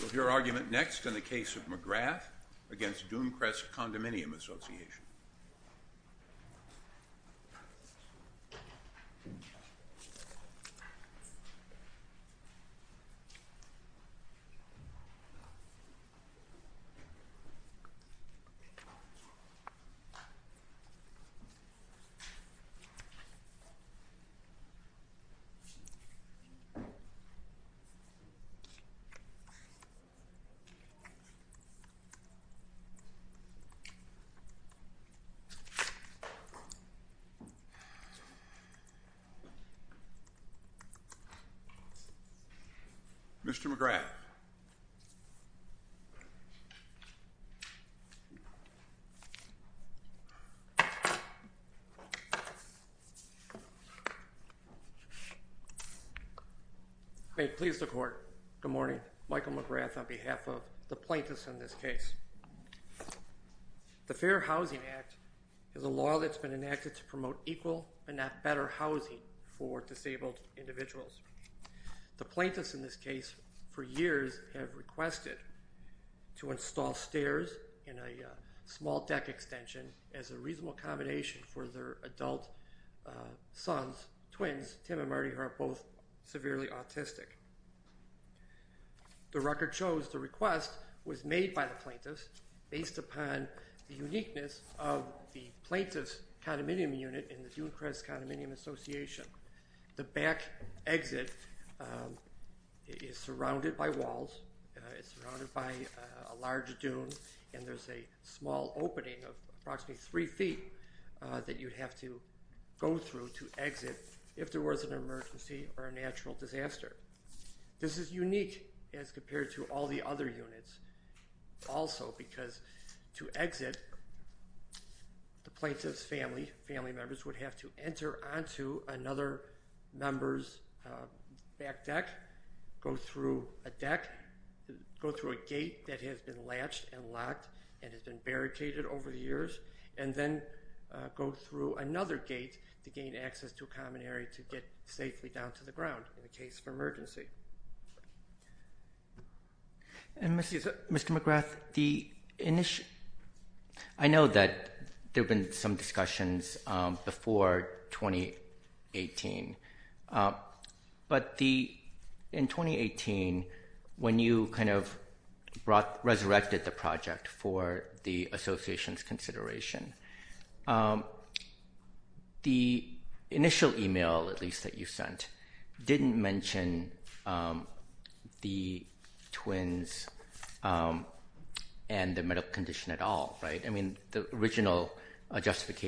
We'll hear argument next in the case of McGrath v. Dunecrest Condominium Association. Mr. McGrath. Mr. McGrath. Good morning. Michael McGrath on behalf of the plaintiffs in this case. The Fair Housing Act is a law that's been enacted to promote equal and not better housing for disabled individuals. The plaintiffs in this case for years have requested to install stairs in a small deck extension as a reasonable combination for their adult sons, twins, Tim and Marty who are both severely autistic. The record shows the request was made by the plaintiffs based upon the uniqueness of the plaintiffs' condominium unit in the Dunecrest Condominium Association. The back exit is surrounded by walls. It's surrounded by a large dune and there's a small opening of approximately three feet that you'd have to go through to exit if there was an emergency or a natural disaster. This is unique as compared to all the other units also because to exit the plaintiff's family, family members would have to enter onto another member's back deck, go through a deck, go through a gate that has been latched and locked and has been barricaded over the years and then go through another gate to gain access to a common area to get safely down to the ground in the case of emergency. Mr. McGrath, I know that there have been some discussions before 2018, but in 2018 when you kind of resurrected the project for the association's consideration, the initial email at least that you sent didn't mention the twins and the medical condition at all, right? Isn't that correct?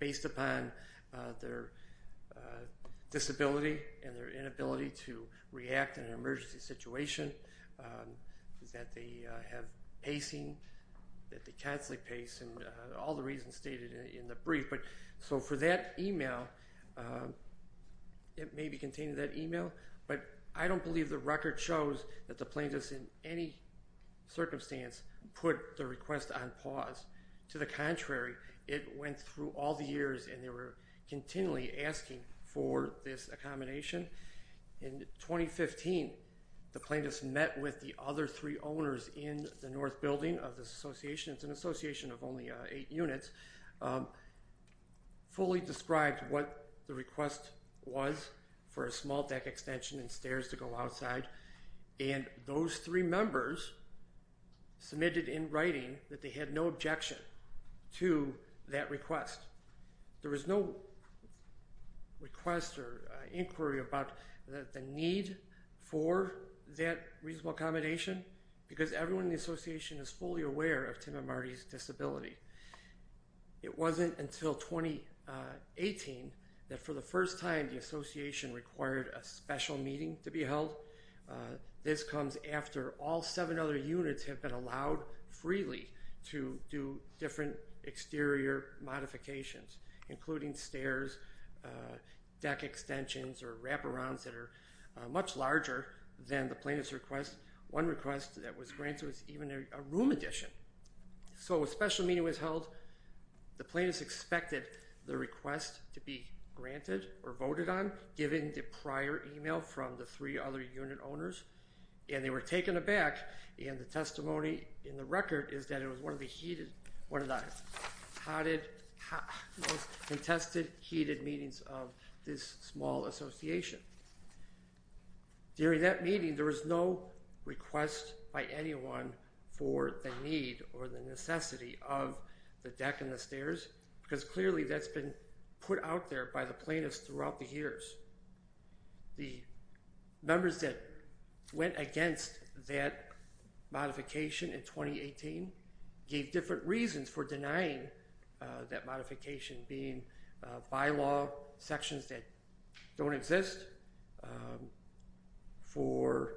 based upon their disability and their inability to react in an emergency situation, that they have pacing, that they constantly pace and all the reasons stated in the brief. So for that email, it may be contained in that email, but I don't believe the record shows that the plaintiffs in any circumstance put the request on pause. To the contrary, it went through all the years and they were continually asking for this accommodation. In 2015, the plaintiffs met with the other three owners in the north building of this association. It's an association of only eight units, fully described what the request was for a small deck extension and stairs to go outside. And those three members submitted in writing that they had no objection to that request. There was no request or inquiry about the need for that reasonable accommodation because everyone in the association is fully aware of Tim and Marty's disability. It wasn't until 2018 that for the first time, the association required a special meeting to be held. This comes after all seven other units have been allowed freely to do different exterior modifications, including stairs, deck extensions or wraparounds that are much larger than the plaintiff's request. One request that was granted was even a room addition. So a special meeting was held. The plaintiffs expected the request to be granted or voted on, given the prior email from the three other unit owners, and they were taken aback. And the testimony in the record is that it was one of the heated, one of the hottest, most contested, heated meetings of this small association. During that meeting, there was no request by anyone for the need or the necessity of the deck and the stairs, because clearly that's been put out there by the plaintiffs throughout the years. The members that went against that modification in 2018 gave different reasons for denying that modification, being bylaw sections that don't exist, for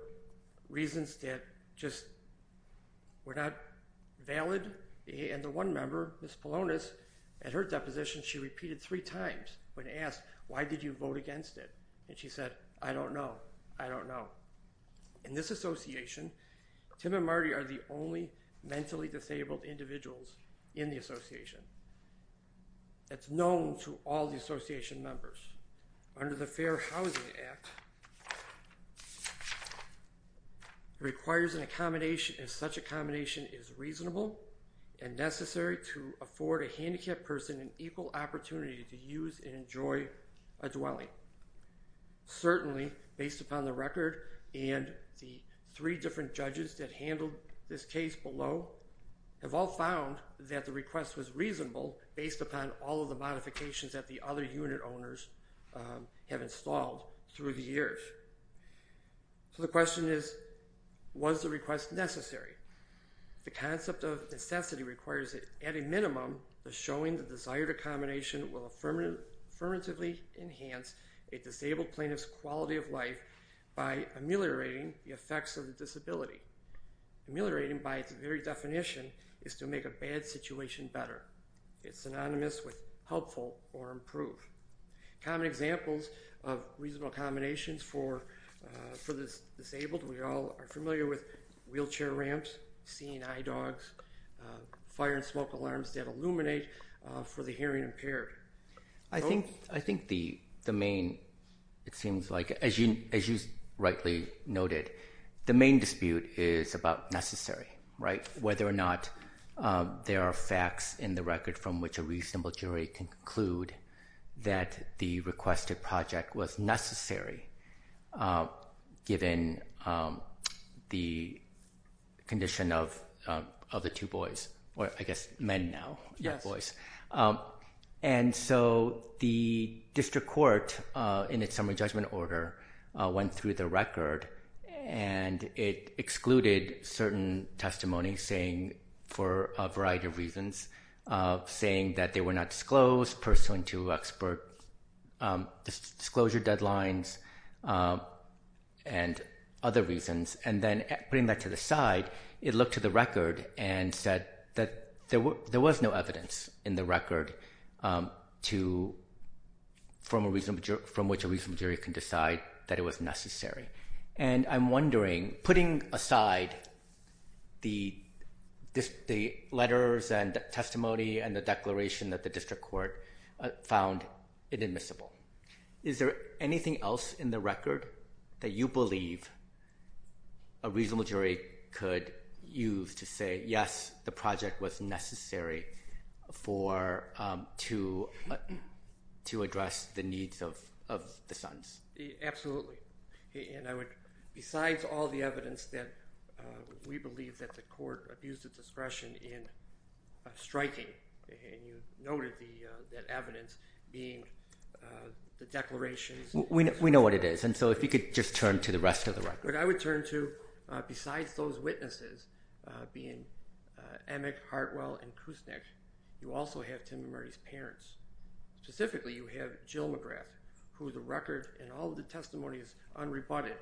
reasons that just were not valid. And the one member, Ms. Polonis, at her deposition, she repeated three times when asked, why did you vote against it? And she said, I don't know. I don't know. In this association, Tim and Marty are the only mentally disabled individuals in the association. That's known to all the association members. Under the Fair Housing Act, it requires an accommodation, and such accommodation is reasonable and necessary to afford a handicapped person an equal opportunity to use and enjoy a dwelling. Certainly, based upon the record and the three different judges that handled this case below, have all found that the request was reasonable based upon all of the modifications that the other unit owners have installed through the years. So the question is, was the request necessary? The concept of necessity requires that, at a minimum, the showing the desired accommodation will affirmatively enhance a disabled plaintiff's quality of life by ameliorating the effects of the disability. Ameliorating, by its very definition, is to make a bad situation better. It's synonymous with helpful or improved. Common examples of reasonable accommodations for the disabled, we all are familiar with wheelchair ramps, seeing eye dogs, fire and smoke alarms that illuminate for the hearing impaired. I think the main, it seems like, as you rightly noted, the main dispute is about necessary, right? Whether or not there are facts in the record from which a reasonable jury can conclude that the requested project was necessary, given the condition of the two boys, or I guess men now. And so the district court, in its summary judgment order, went through the record and it excluded certain testimonies saying, for a variety of reasons, saying that they were not disclosed, pursuant to expert disclosure deadlines, and other reasons. And then putting that to the side, it looked to the record and said that there was no evidence in the record from which a reasonable jury can decide that it was necessary. And I'm wondering, putting aside the letters and testimony and the declaration that the district court found inadmissible, is there anything else in the record that you believe a reasonable jury could use to say, yes, the project was necessary to address the needs of the sons? Absolutely. And I would, besides all the evidence that we believe that the court abused its discretion in striking, and you noted that evidence being the declarations. We know what it is, and so if you could just turn to the rest of the record. But I would turn to, besides those witnesses, being Emick, Hartwell, and Kuznick, you also have Tim and Murray's parents. Specifically, you have Jill McGrath, who the record and all of the testimony is unrebutted.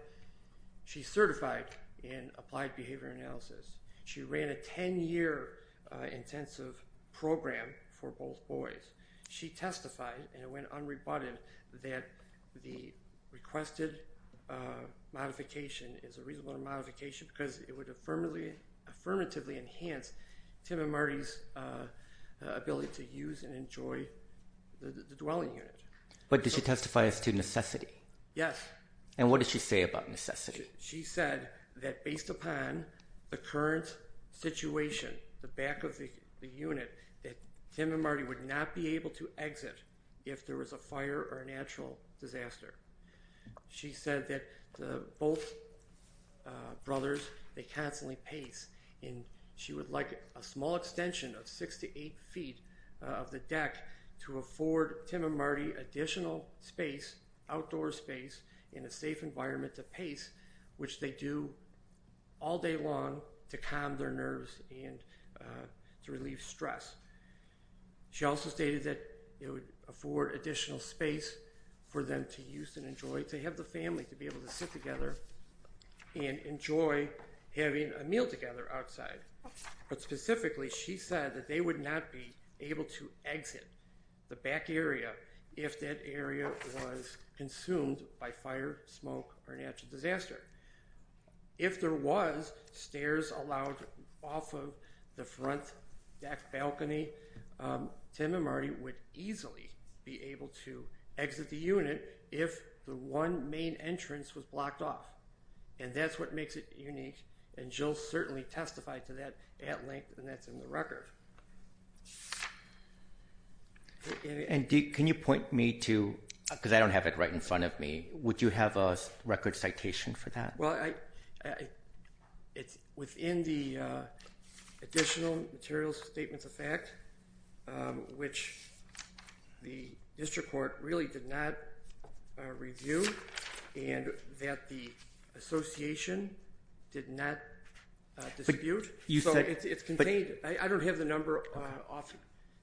She's certified in applied behavior analysis. She ran a 10-year intensive program for both boys. She testified, and it went unrebutted, that the requested modification is a reasonable modification because it would affirmatively enhance Tim and Marty's ability to use and enjoy the dwelling unit. But did she testify as to necessity? Yes. And what did she say about necessity? She said that based upon the current situation, the back of the unit, that Tim and Marty would not be able to exit if there was a fire or a natural disaster. She said that both brothers, they constantly pace, and she would like a small extension of 6 to 8 feet of the deck to afford Tim and Marty additional space, outdoor space, in a safe environment to pace, which they do all day long to calm their nerves and to relieve stress. She also stated that it would afford additional space for them to use and enjoy, to have the family to be able to sit together and enjoy having a meal together outside. But specifically, she said that they would not be able to exit the back area if that area was consumed by fire, smoke, or natural disaster. If there was stairs allowed off of the front deck balcony, Tim and Marty would easily be able to exit the unit if the one main entrance was blocked off. And that's what makes it unique, and Jill certainly testified to that at length, and that's in the record. And can you point me to, because I don't have it right in front of me, would you have a record citation for that? Well, it's within the additional materials statements of fact, which the district court really did not review, and that the association did not dispute. So it's contained. I don't have the number off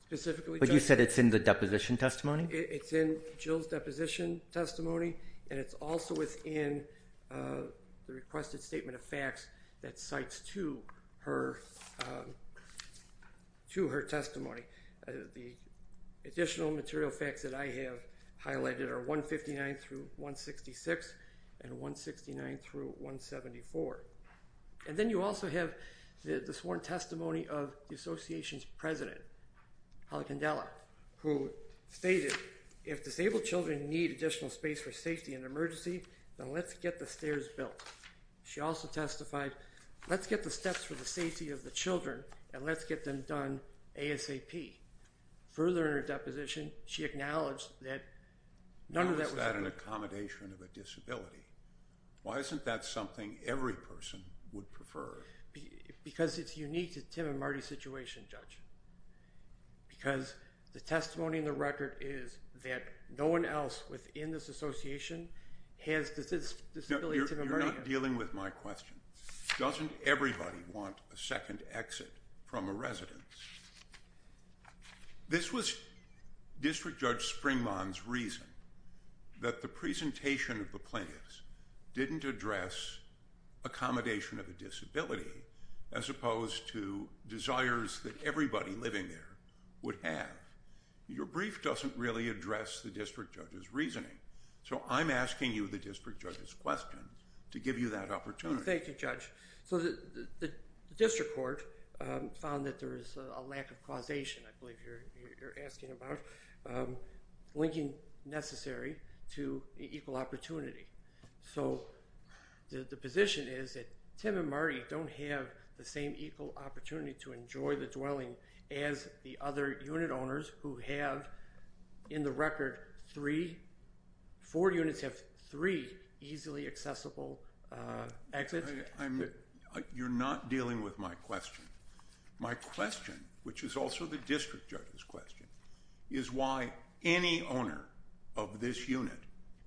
specifically. But you said it's in the deposition testimony? It's in Jill's deposition testimony, and it's also within the requested statement of facts that cites to her testimony. The additional material facts that I have highlighted are 159 through 166 and 169 through 174. And then you also have the sworn testimony of the association's president, Holly Candela, who stated, if disabled children need additional space for safety in an emergency, then let's get the stairs built. She also testified, let's get the steps for the safety of the children, and let's get them done ASAP. Further in her deposition, she acknowledged that none of that was… Now, is that an accommodation of a disability? Why isn't that something every person would prefer? Because it's unique to Tim and Marty's situation, Judge. Because the testimony in the record is that no one else within this association has a disability. You're not dealing with my question. Doesn't everybody want a second exit from a residence? This was District Judge Springmon's reason that the presentation of the plaintiffs didn't address accommodation of a disability as opposed to desires that everybody living there would have. Your brief doesn't really address the district judge's reasoning, so I'm asking you the district judge's question to give you that opportunity. Thank you, Judge. The district court found that there is a lack of causation, I believe you're asking about, linking necessary to equal opportunity. So the position is that Tim and Marty don't have the same equal opportunity to enjoy the dwelling as the other unit owners who have, in the record, four units have three easily accessible exits. You're not dealing with my question. My question, which is also the district judge's question, is why any owner of this unit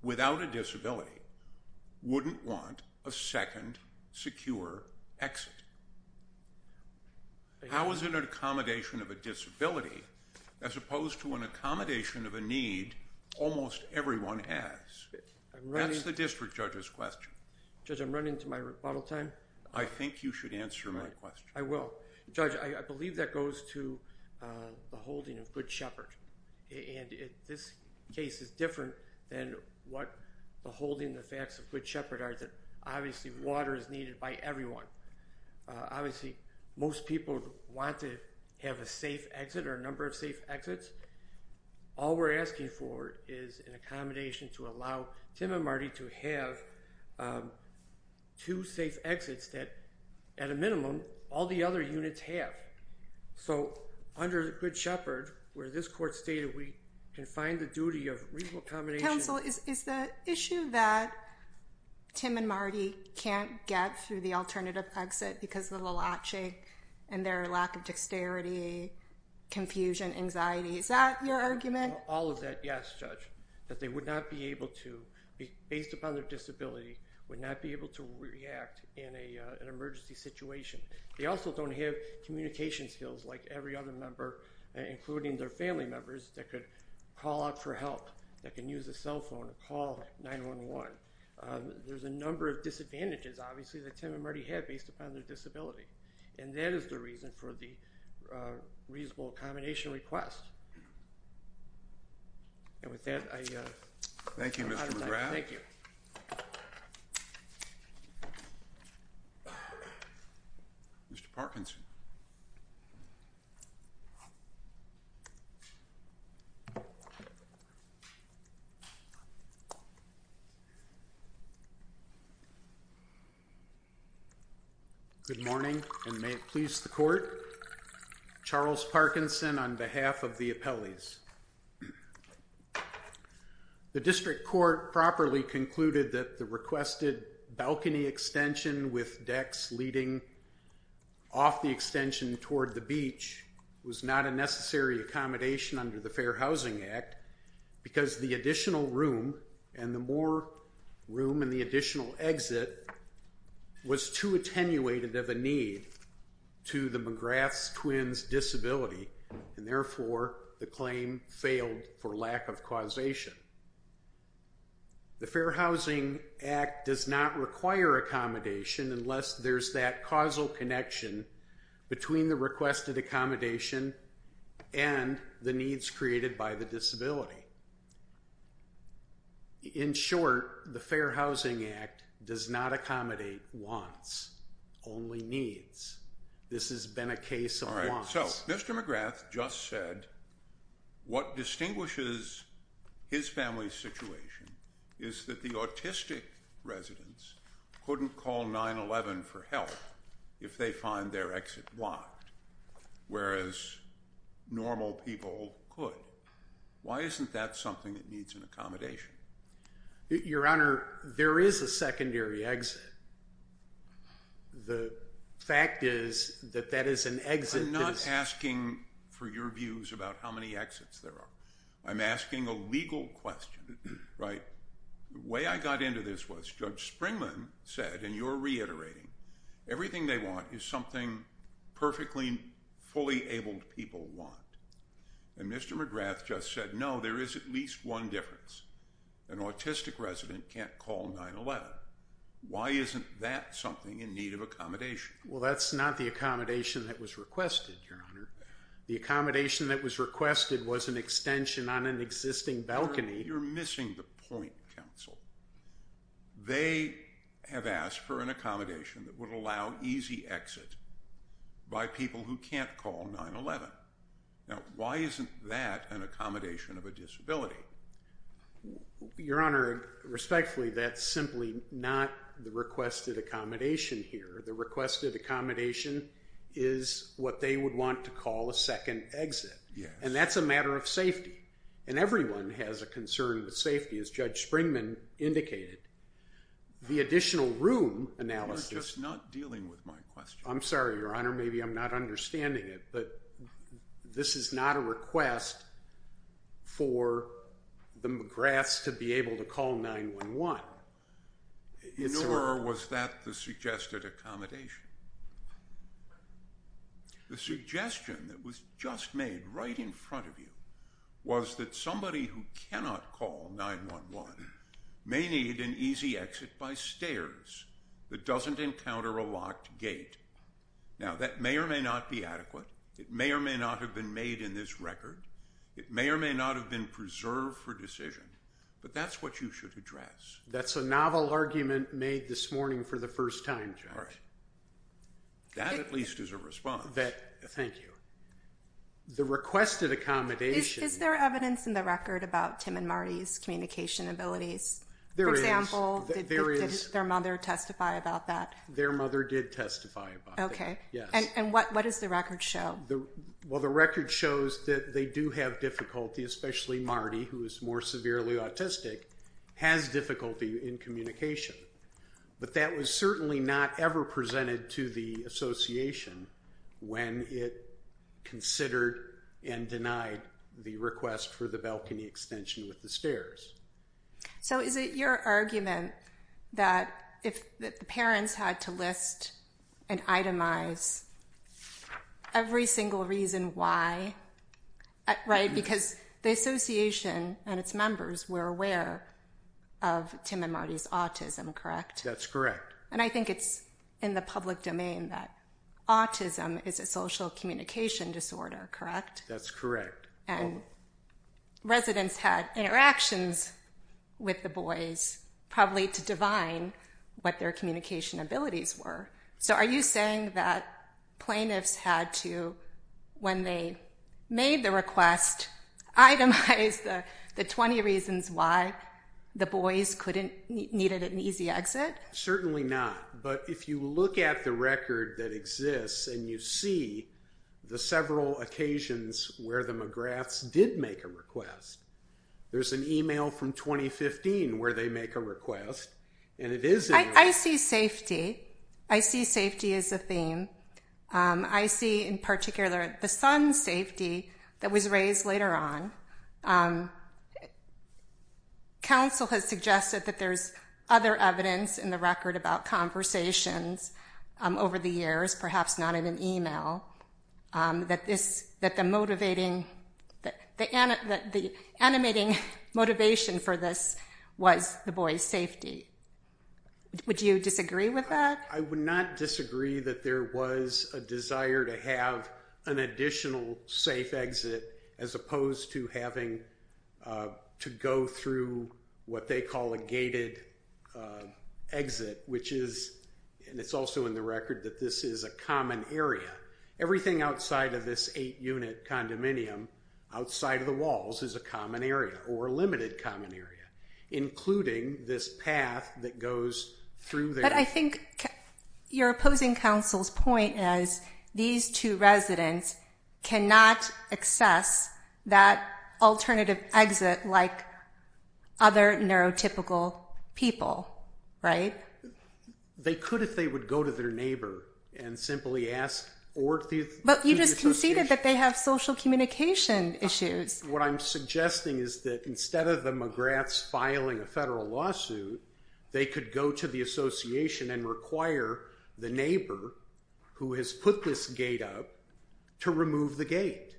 without a disability wouldn't want a second secure exit. How is it an accommodation of a disability as opposed to an accommodation of a need almost everyone has? That's the district judge's question. Judge, I'm running to my rebuttal time. I think you should answer my question. I will. Judge, I believe that goes to the holding of Good Shepherd. And this case is different than what the holding the facts of Good Shepherd are, that obviously water is needed by everyone. Obviously most people want to have a safe exit or a number of safe exits. All we're asking for is an accommodation to allow Tim and Marty to have two safe exits that, at a minimum, all the other units have. So under Good Shepherd, where this court stated we can find the duty of reasonable accommodation. Counsel, is the issue that Tim and Marty can't get through the alternative exit because of the latching and their lack of dexterity, confusion, anxiety, is that your argument? All of that, yes, Judge, that they would not be able to, based upon their disability, would not be able to react in an emergency situation. They also don't have communication skills like every other member, including their family members, that could call out for help, that can use a cell phone, call 911. There's a number of disadvantages, obviously, that Tim and Marty have based upon their disability. And that is the reason for the reasonable accommodation request. And with that, I... Thank you, Mr. McGrath. Thank you. Mr. Parkinson. Good morning, and may it please the court. Charles Parkinson on behalf of the appellees. The district court properly concluded that the requested balcony extension with decks leading off the extension toward the beach was not a necessary accommodation under the Fair Housing Act because the additional room and the more room and the additional exit was too attenuated of a need to the McGrath's twin's disability. And therefore, the claim failed for lack of causation. The Fair Housing Act does not require accommodation unless there's that causal connection between the requested accommodation and the needs created by the disability. In short, the Fair Housing Act does not accommodate wants, only needs. This has been a case of wants. So, Mr. McGrath just said what distinguishes his family's situation is that the autistic residents couldn't call 911 for help if they find their exit blocked, whereas normal people could. Why isn't that something that needs an accommodation? Your Honor, there is a secondary exit. The fact is that that is an exit. I'm not asking for your views about how many exits there are. I'm asking a legal question, right? The way I got into this was Judge Springman said, and you're reiterating, everything they want is something perfectly fully abled people want. And Mr. McGrath just said, no, there is at least one difference. An autistic resident can't call 911. Why isn't that something in need of accommodation? Well, that's not the accommodation that was requested, Your Honor. The accommodation that was requested was an extension on an existing balcony. You're missing the point, counsel. They have asked for an accommodation that would allow easy exit by people who can't call 911. Now, why isn't that an accommodation of a disability? Your Honor, respectfully, that's simply not the requested accommodation here. The requested accommodation is what they would want to call a second exit. And that's a matter of safety. And everyone has a concern with safety, as Judge Springman indicated. The additional room analysis. You're just not dealing with my question. I'm sorry, Your Honor. Maybe I'm not understanding it, but this is not a request for the McGraths to be able to call 911. Nor was that the suggested accommodation. The suggestion that was just made right in front of you was that somebody who cannot call 911 may need an easy exit by stairs that doesn't encounter a locked gate. Now, that may or may not be adequate. It may or may not have been made in this record. It may or may not have been preserved for decision. But that's what you should address. That's a novel argument made this morning for the first time, Judge. All right. That at least is a response. Thank you. The requested accommodation. Is there evidence in the record about Tim and Marty's communication abilities? There is. For example, did their mother testify about that? Their mother did testify about that, yes. And what does the record show? Well, the record shows that they do have difficulty, especially Marty, who is more severely autistic, has difficulty in communication. But that was certainly not ever presented to the association when it considered and denied the request for the balcony extension with the stairs. So is it your argument that the parents had to list and itemize every single reason why, right? Because the association and its members were aware of Tim and Marty's autism, correct? That's correct. And I think it's in the public domain that autism is a social communication disorder, correct? That's correct. And residents had interactions with the boys, probably to divine what their communication abilities were. So are you saying that plaintiffs had to, when they made the request, itemize the 20 reasons why the boys needed an easy exit? Certainly not. But if you look at the record that exists and you see the several occasions where the McGraths did make a request, there's an email from 2015 where they make a request, and it is in there. I see safety. I see safety as a theme. I see, in particular, the son's safety that was raised later on. Counsel has suggested that there's other evidence in the record about conversations over the years, perhaps not in an email, that the animating motivation for this was the boys' safety. Would you disagree with that? I would not disagree that there was a desire to have an additional safe exit, as opposed to having to go through what they call a gated exit, which is, and it's also in the record, that this is a common area. Everything outside of this eight-unit condominium, outside of the walls, is a common area, or a limited common area, including this path that goes through there. But I think you're opposing counsel's point as these two residents cannot access that alternative exit like other neurotypical people, right? They could if they would go to their neighbor and simply ask or to the association. But you just conceded that they have social communication issues. What I'm suggesting is that instead of the McGraths filing a federal lawsuit, they could go to the association and require the neighbor who has put this gate up to remove the gate.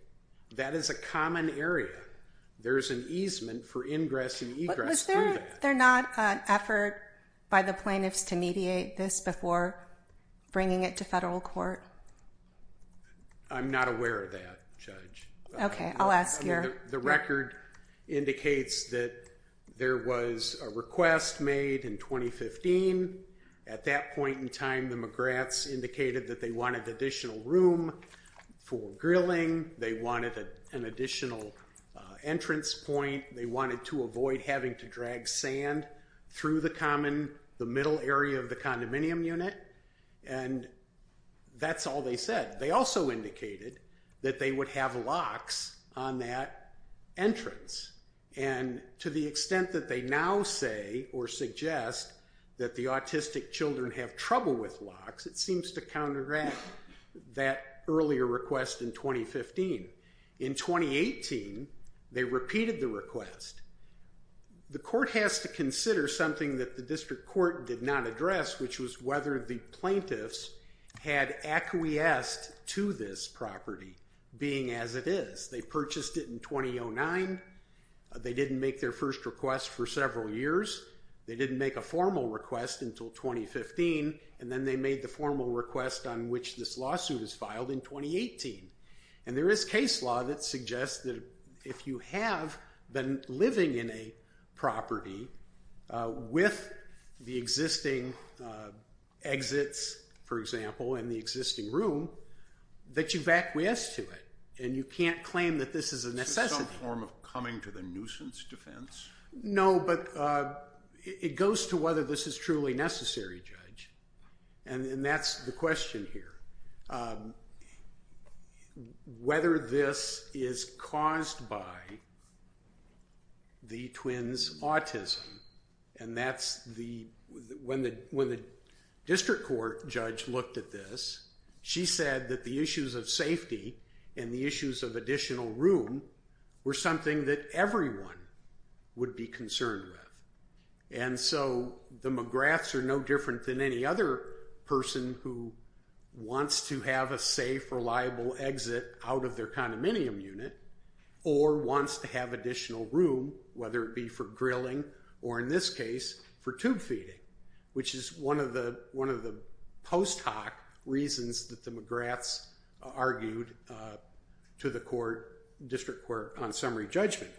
That is a common area. There is an easement for ingress and egress through that. But was there not an effort by the plaintiffs to mediate this before bringing it to federal court? I'm not aware of that, Judge. Okay, I'll ask you. The record indicates that there was a request made in 2015. At that point in time, the McGraths indicated that they wanted additional room for grilling. They wanted an additional entrance point. They wanted to avoid having to drag sand through the middle area of the condominium unit. And that's all they said. They also indicated that they would have locks on that entrance. And to the extent that they now say or suggest that the autistic children have trouble with locks, it seems to counteract that earlier request in 2015. In 2018, they repeated the request. The court has to consider something that the district court did not address, which was whether the plaintiffs had acquiesced to this property being as it is. They purchased it in 2009. They didn't make their first request for several years. They didn't make a formal request until 2015. And then they made the formal request on which this lawsuit is filed in 2018. And there is case law that suggests that if you have been living in a property with the existing exits, for example, and the existing room, that you've acquiesced to it. And you can't claim that this is a necessity. Is this some form of coming to the nuisance defense? No, but it goes to whether this is truly necessary, Judge. And that's the question here, whether this is caused by the twins' autism. And when the district court judge looked at this, she said that the issues of safety and the issues of additional room were something that everyone would be concerned with. And so the McGraths are no different than any other person who wants to have a safe, reliable exit out of their condominium unit or wants to have additional room, whether it be for grilling or, in this case, for tube feeding, which is one of the post hoc reasons that the McGraths argued to the district court on summary judgment.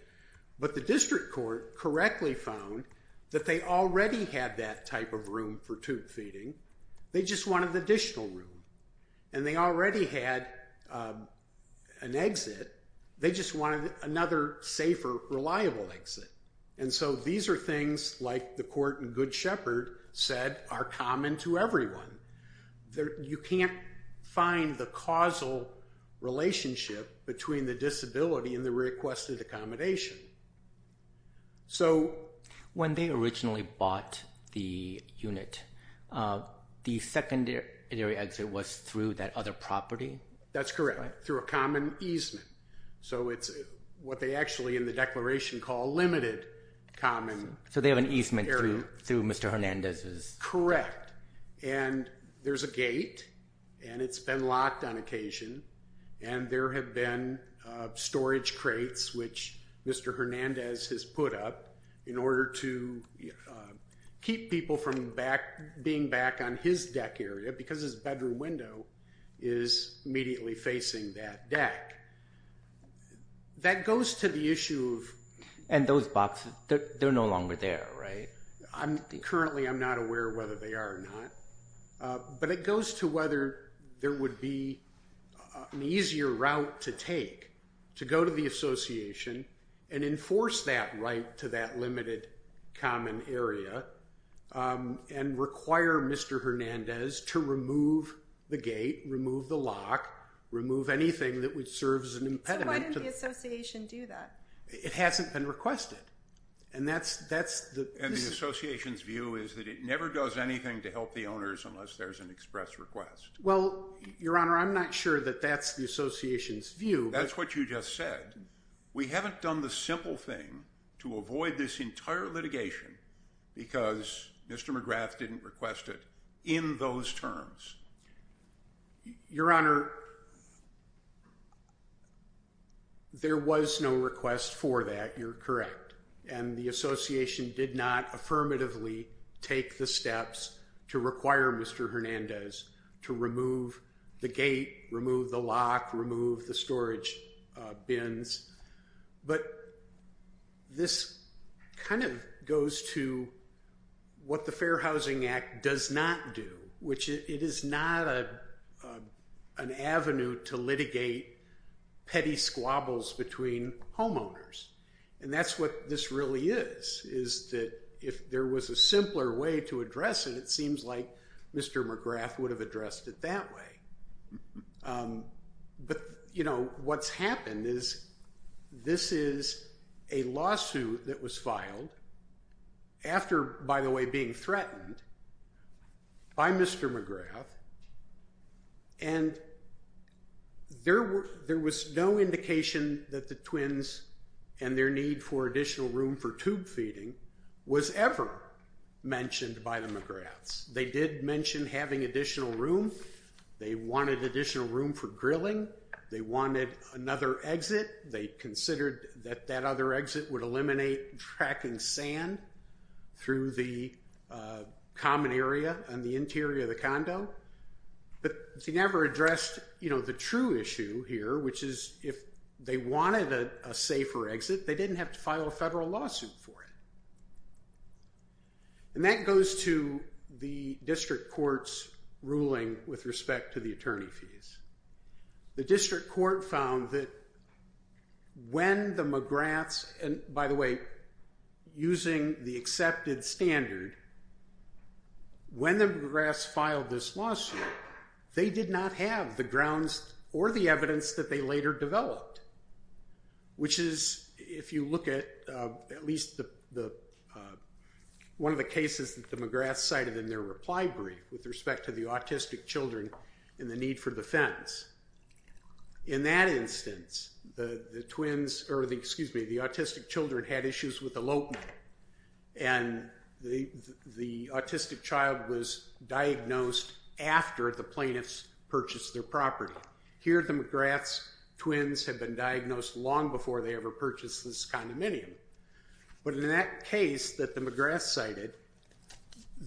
But the district court correctly found that they already had that type of room for tube feeding. They just wanted additional room. And they already had an exit. They just wanted another safer, reliable exit. And so these are things, like the court in Good Shepherd said, are common to everyone. You can't find the causal relationship between the disability and the requested accommodation. When they originally bought the unit, the secondary exit was through that other property? That's correct, through a common easement. So it's what they actually in the declaration call limited common area. So they have an easement through Mr. Hernandez's? Correct. And there's a gate, and it's been locked on occasion, and there have been storage crates, which Mr. Hernandez has put up, in order to keep people from being back on his deck area, because his bedroom window is immediately facing that deck. That goes to the issue of- And those boxes, they're no longer there, right? Currently I'm not aware whether they are or not. But it goes to whether there would be an easier route to take to go to the association and enforce that right to that limited common area and require Mr. Hernandez to remove the gate, remove the lock, remove anything that would serve as an impediment. So why didn't the association do that? It hasn't been requested. And the association's view is that it never does anything to help the owners unless there's an express request. Well, Your Honor, I'm not sure that that's the association's view. That's what you just said. We haven't done the simple thing to avoid this entire litigation because Mr. McGrath didn't request it in those terms. Your Honor, there was no request for that. You're correct. And the association did not affirmatively take the steps to require Mr. Hernandez to remove the gate, remove the lock, remove the storage bins. But this kind of goes to what the Fair Housing Act does not do, which it is not an avenue to litigate petty squabbles between homeowners. And that's what this really is, is that if there was a simpler way to address it, it seems like Mr. McGrath would have addressed it that way. But, you know, what's happened is this is a lawsuit that was filed after, by the way, being threatened by Mr. McGrath, and there was no indication that the twins and their need for additional room for tube feeding was ever mentioned by the McGraths. They did mention having additional room. They wanted additional room for drilling. They wanted another exit. They considered that that other exit would eliminate tracking sand through the common area on the interior of the condo. But they never addressed, you know, the true issue here, which is if they wanted a safer exit, they didn't have to file a federal lawsuit for it. And that goes to the district court's ruling with respect to the attorney fees. The district court found that when the McGraths, and by the way, using the accepted standard, when the McGraths filed this lawsuit, they did not have the grounds or the evidence that they later developed, which is, if you look at at least one of the cases that the McGraths cited in their reply brief with respect to the autistic children and the need for the fence. In that instance, the twins, or excuse me, the autistic children had issues with elopement, and the autistic child was diagnosed after the plaintiffs purchased their property. Here the McGraths' twins had been diagnosed long before they ever purchased this condominium. But in that case that the McGraths cited,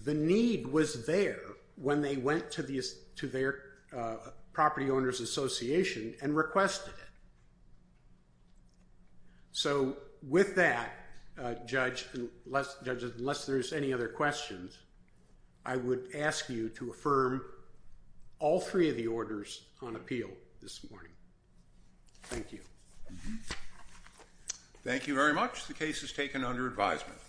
the need was there when they went to their property owners' association and requested it. So with that, Judge, unless there's any other questions, I would ask you to affirm all three of the orders on appeal this morning. Thank you. Thank you very much. The case is taken under advisement.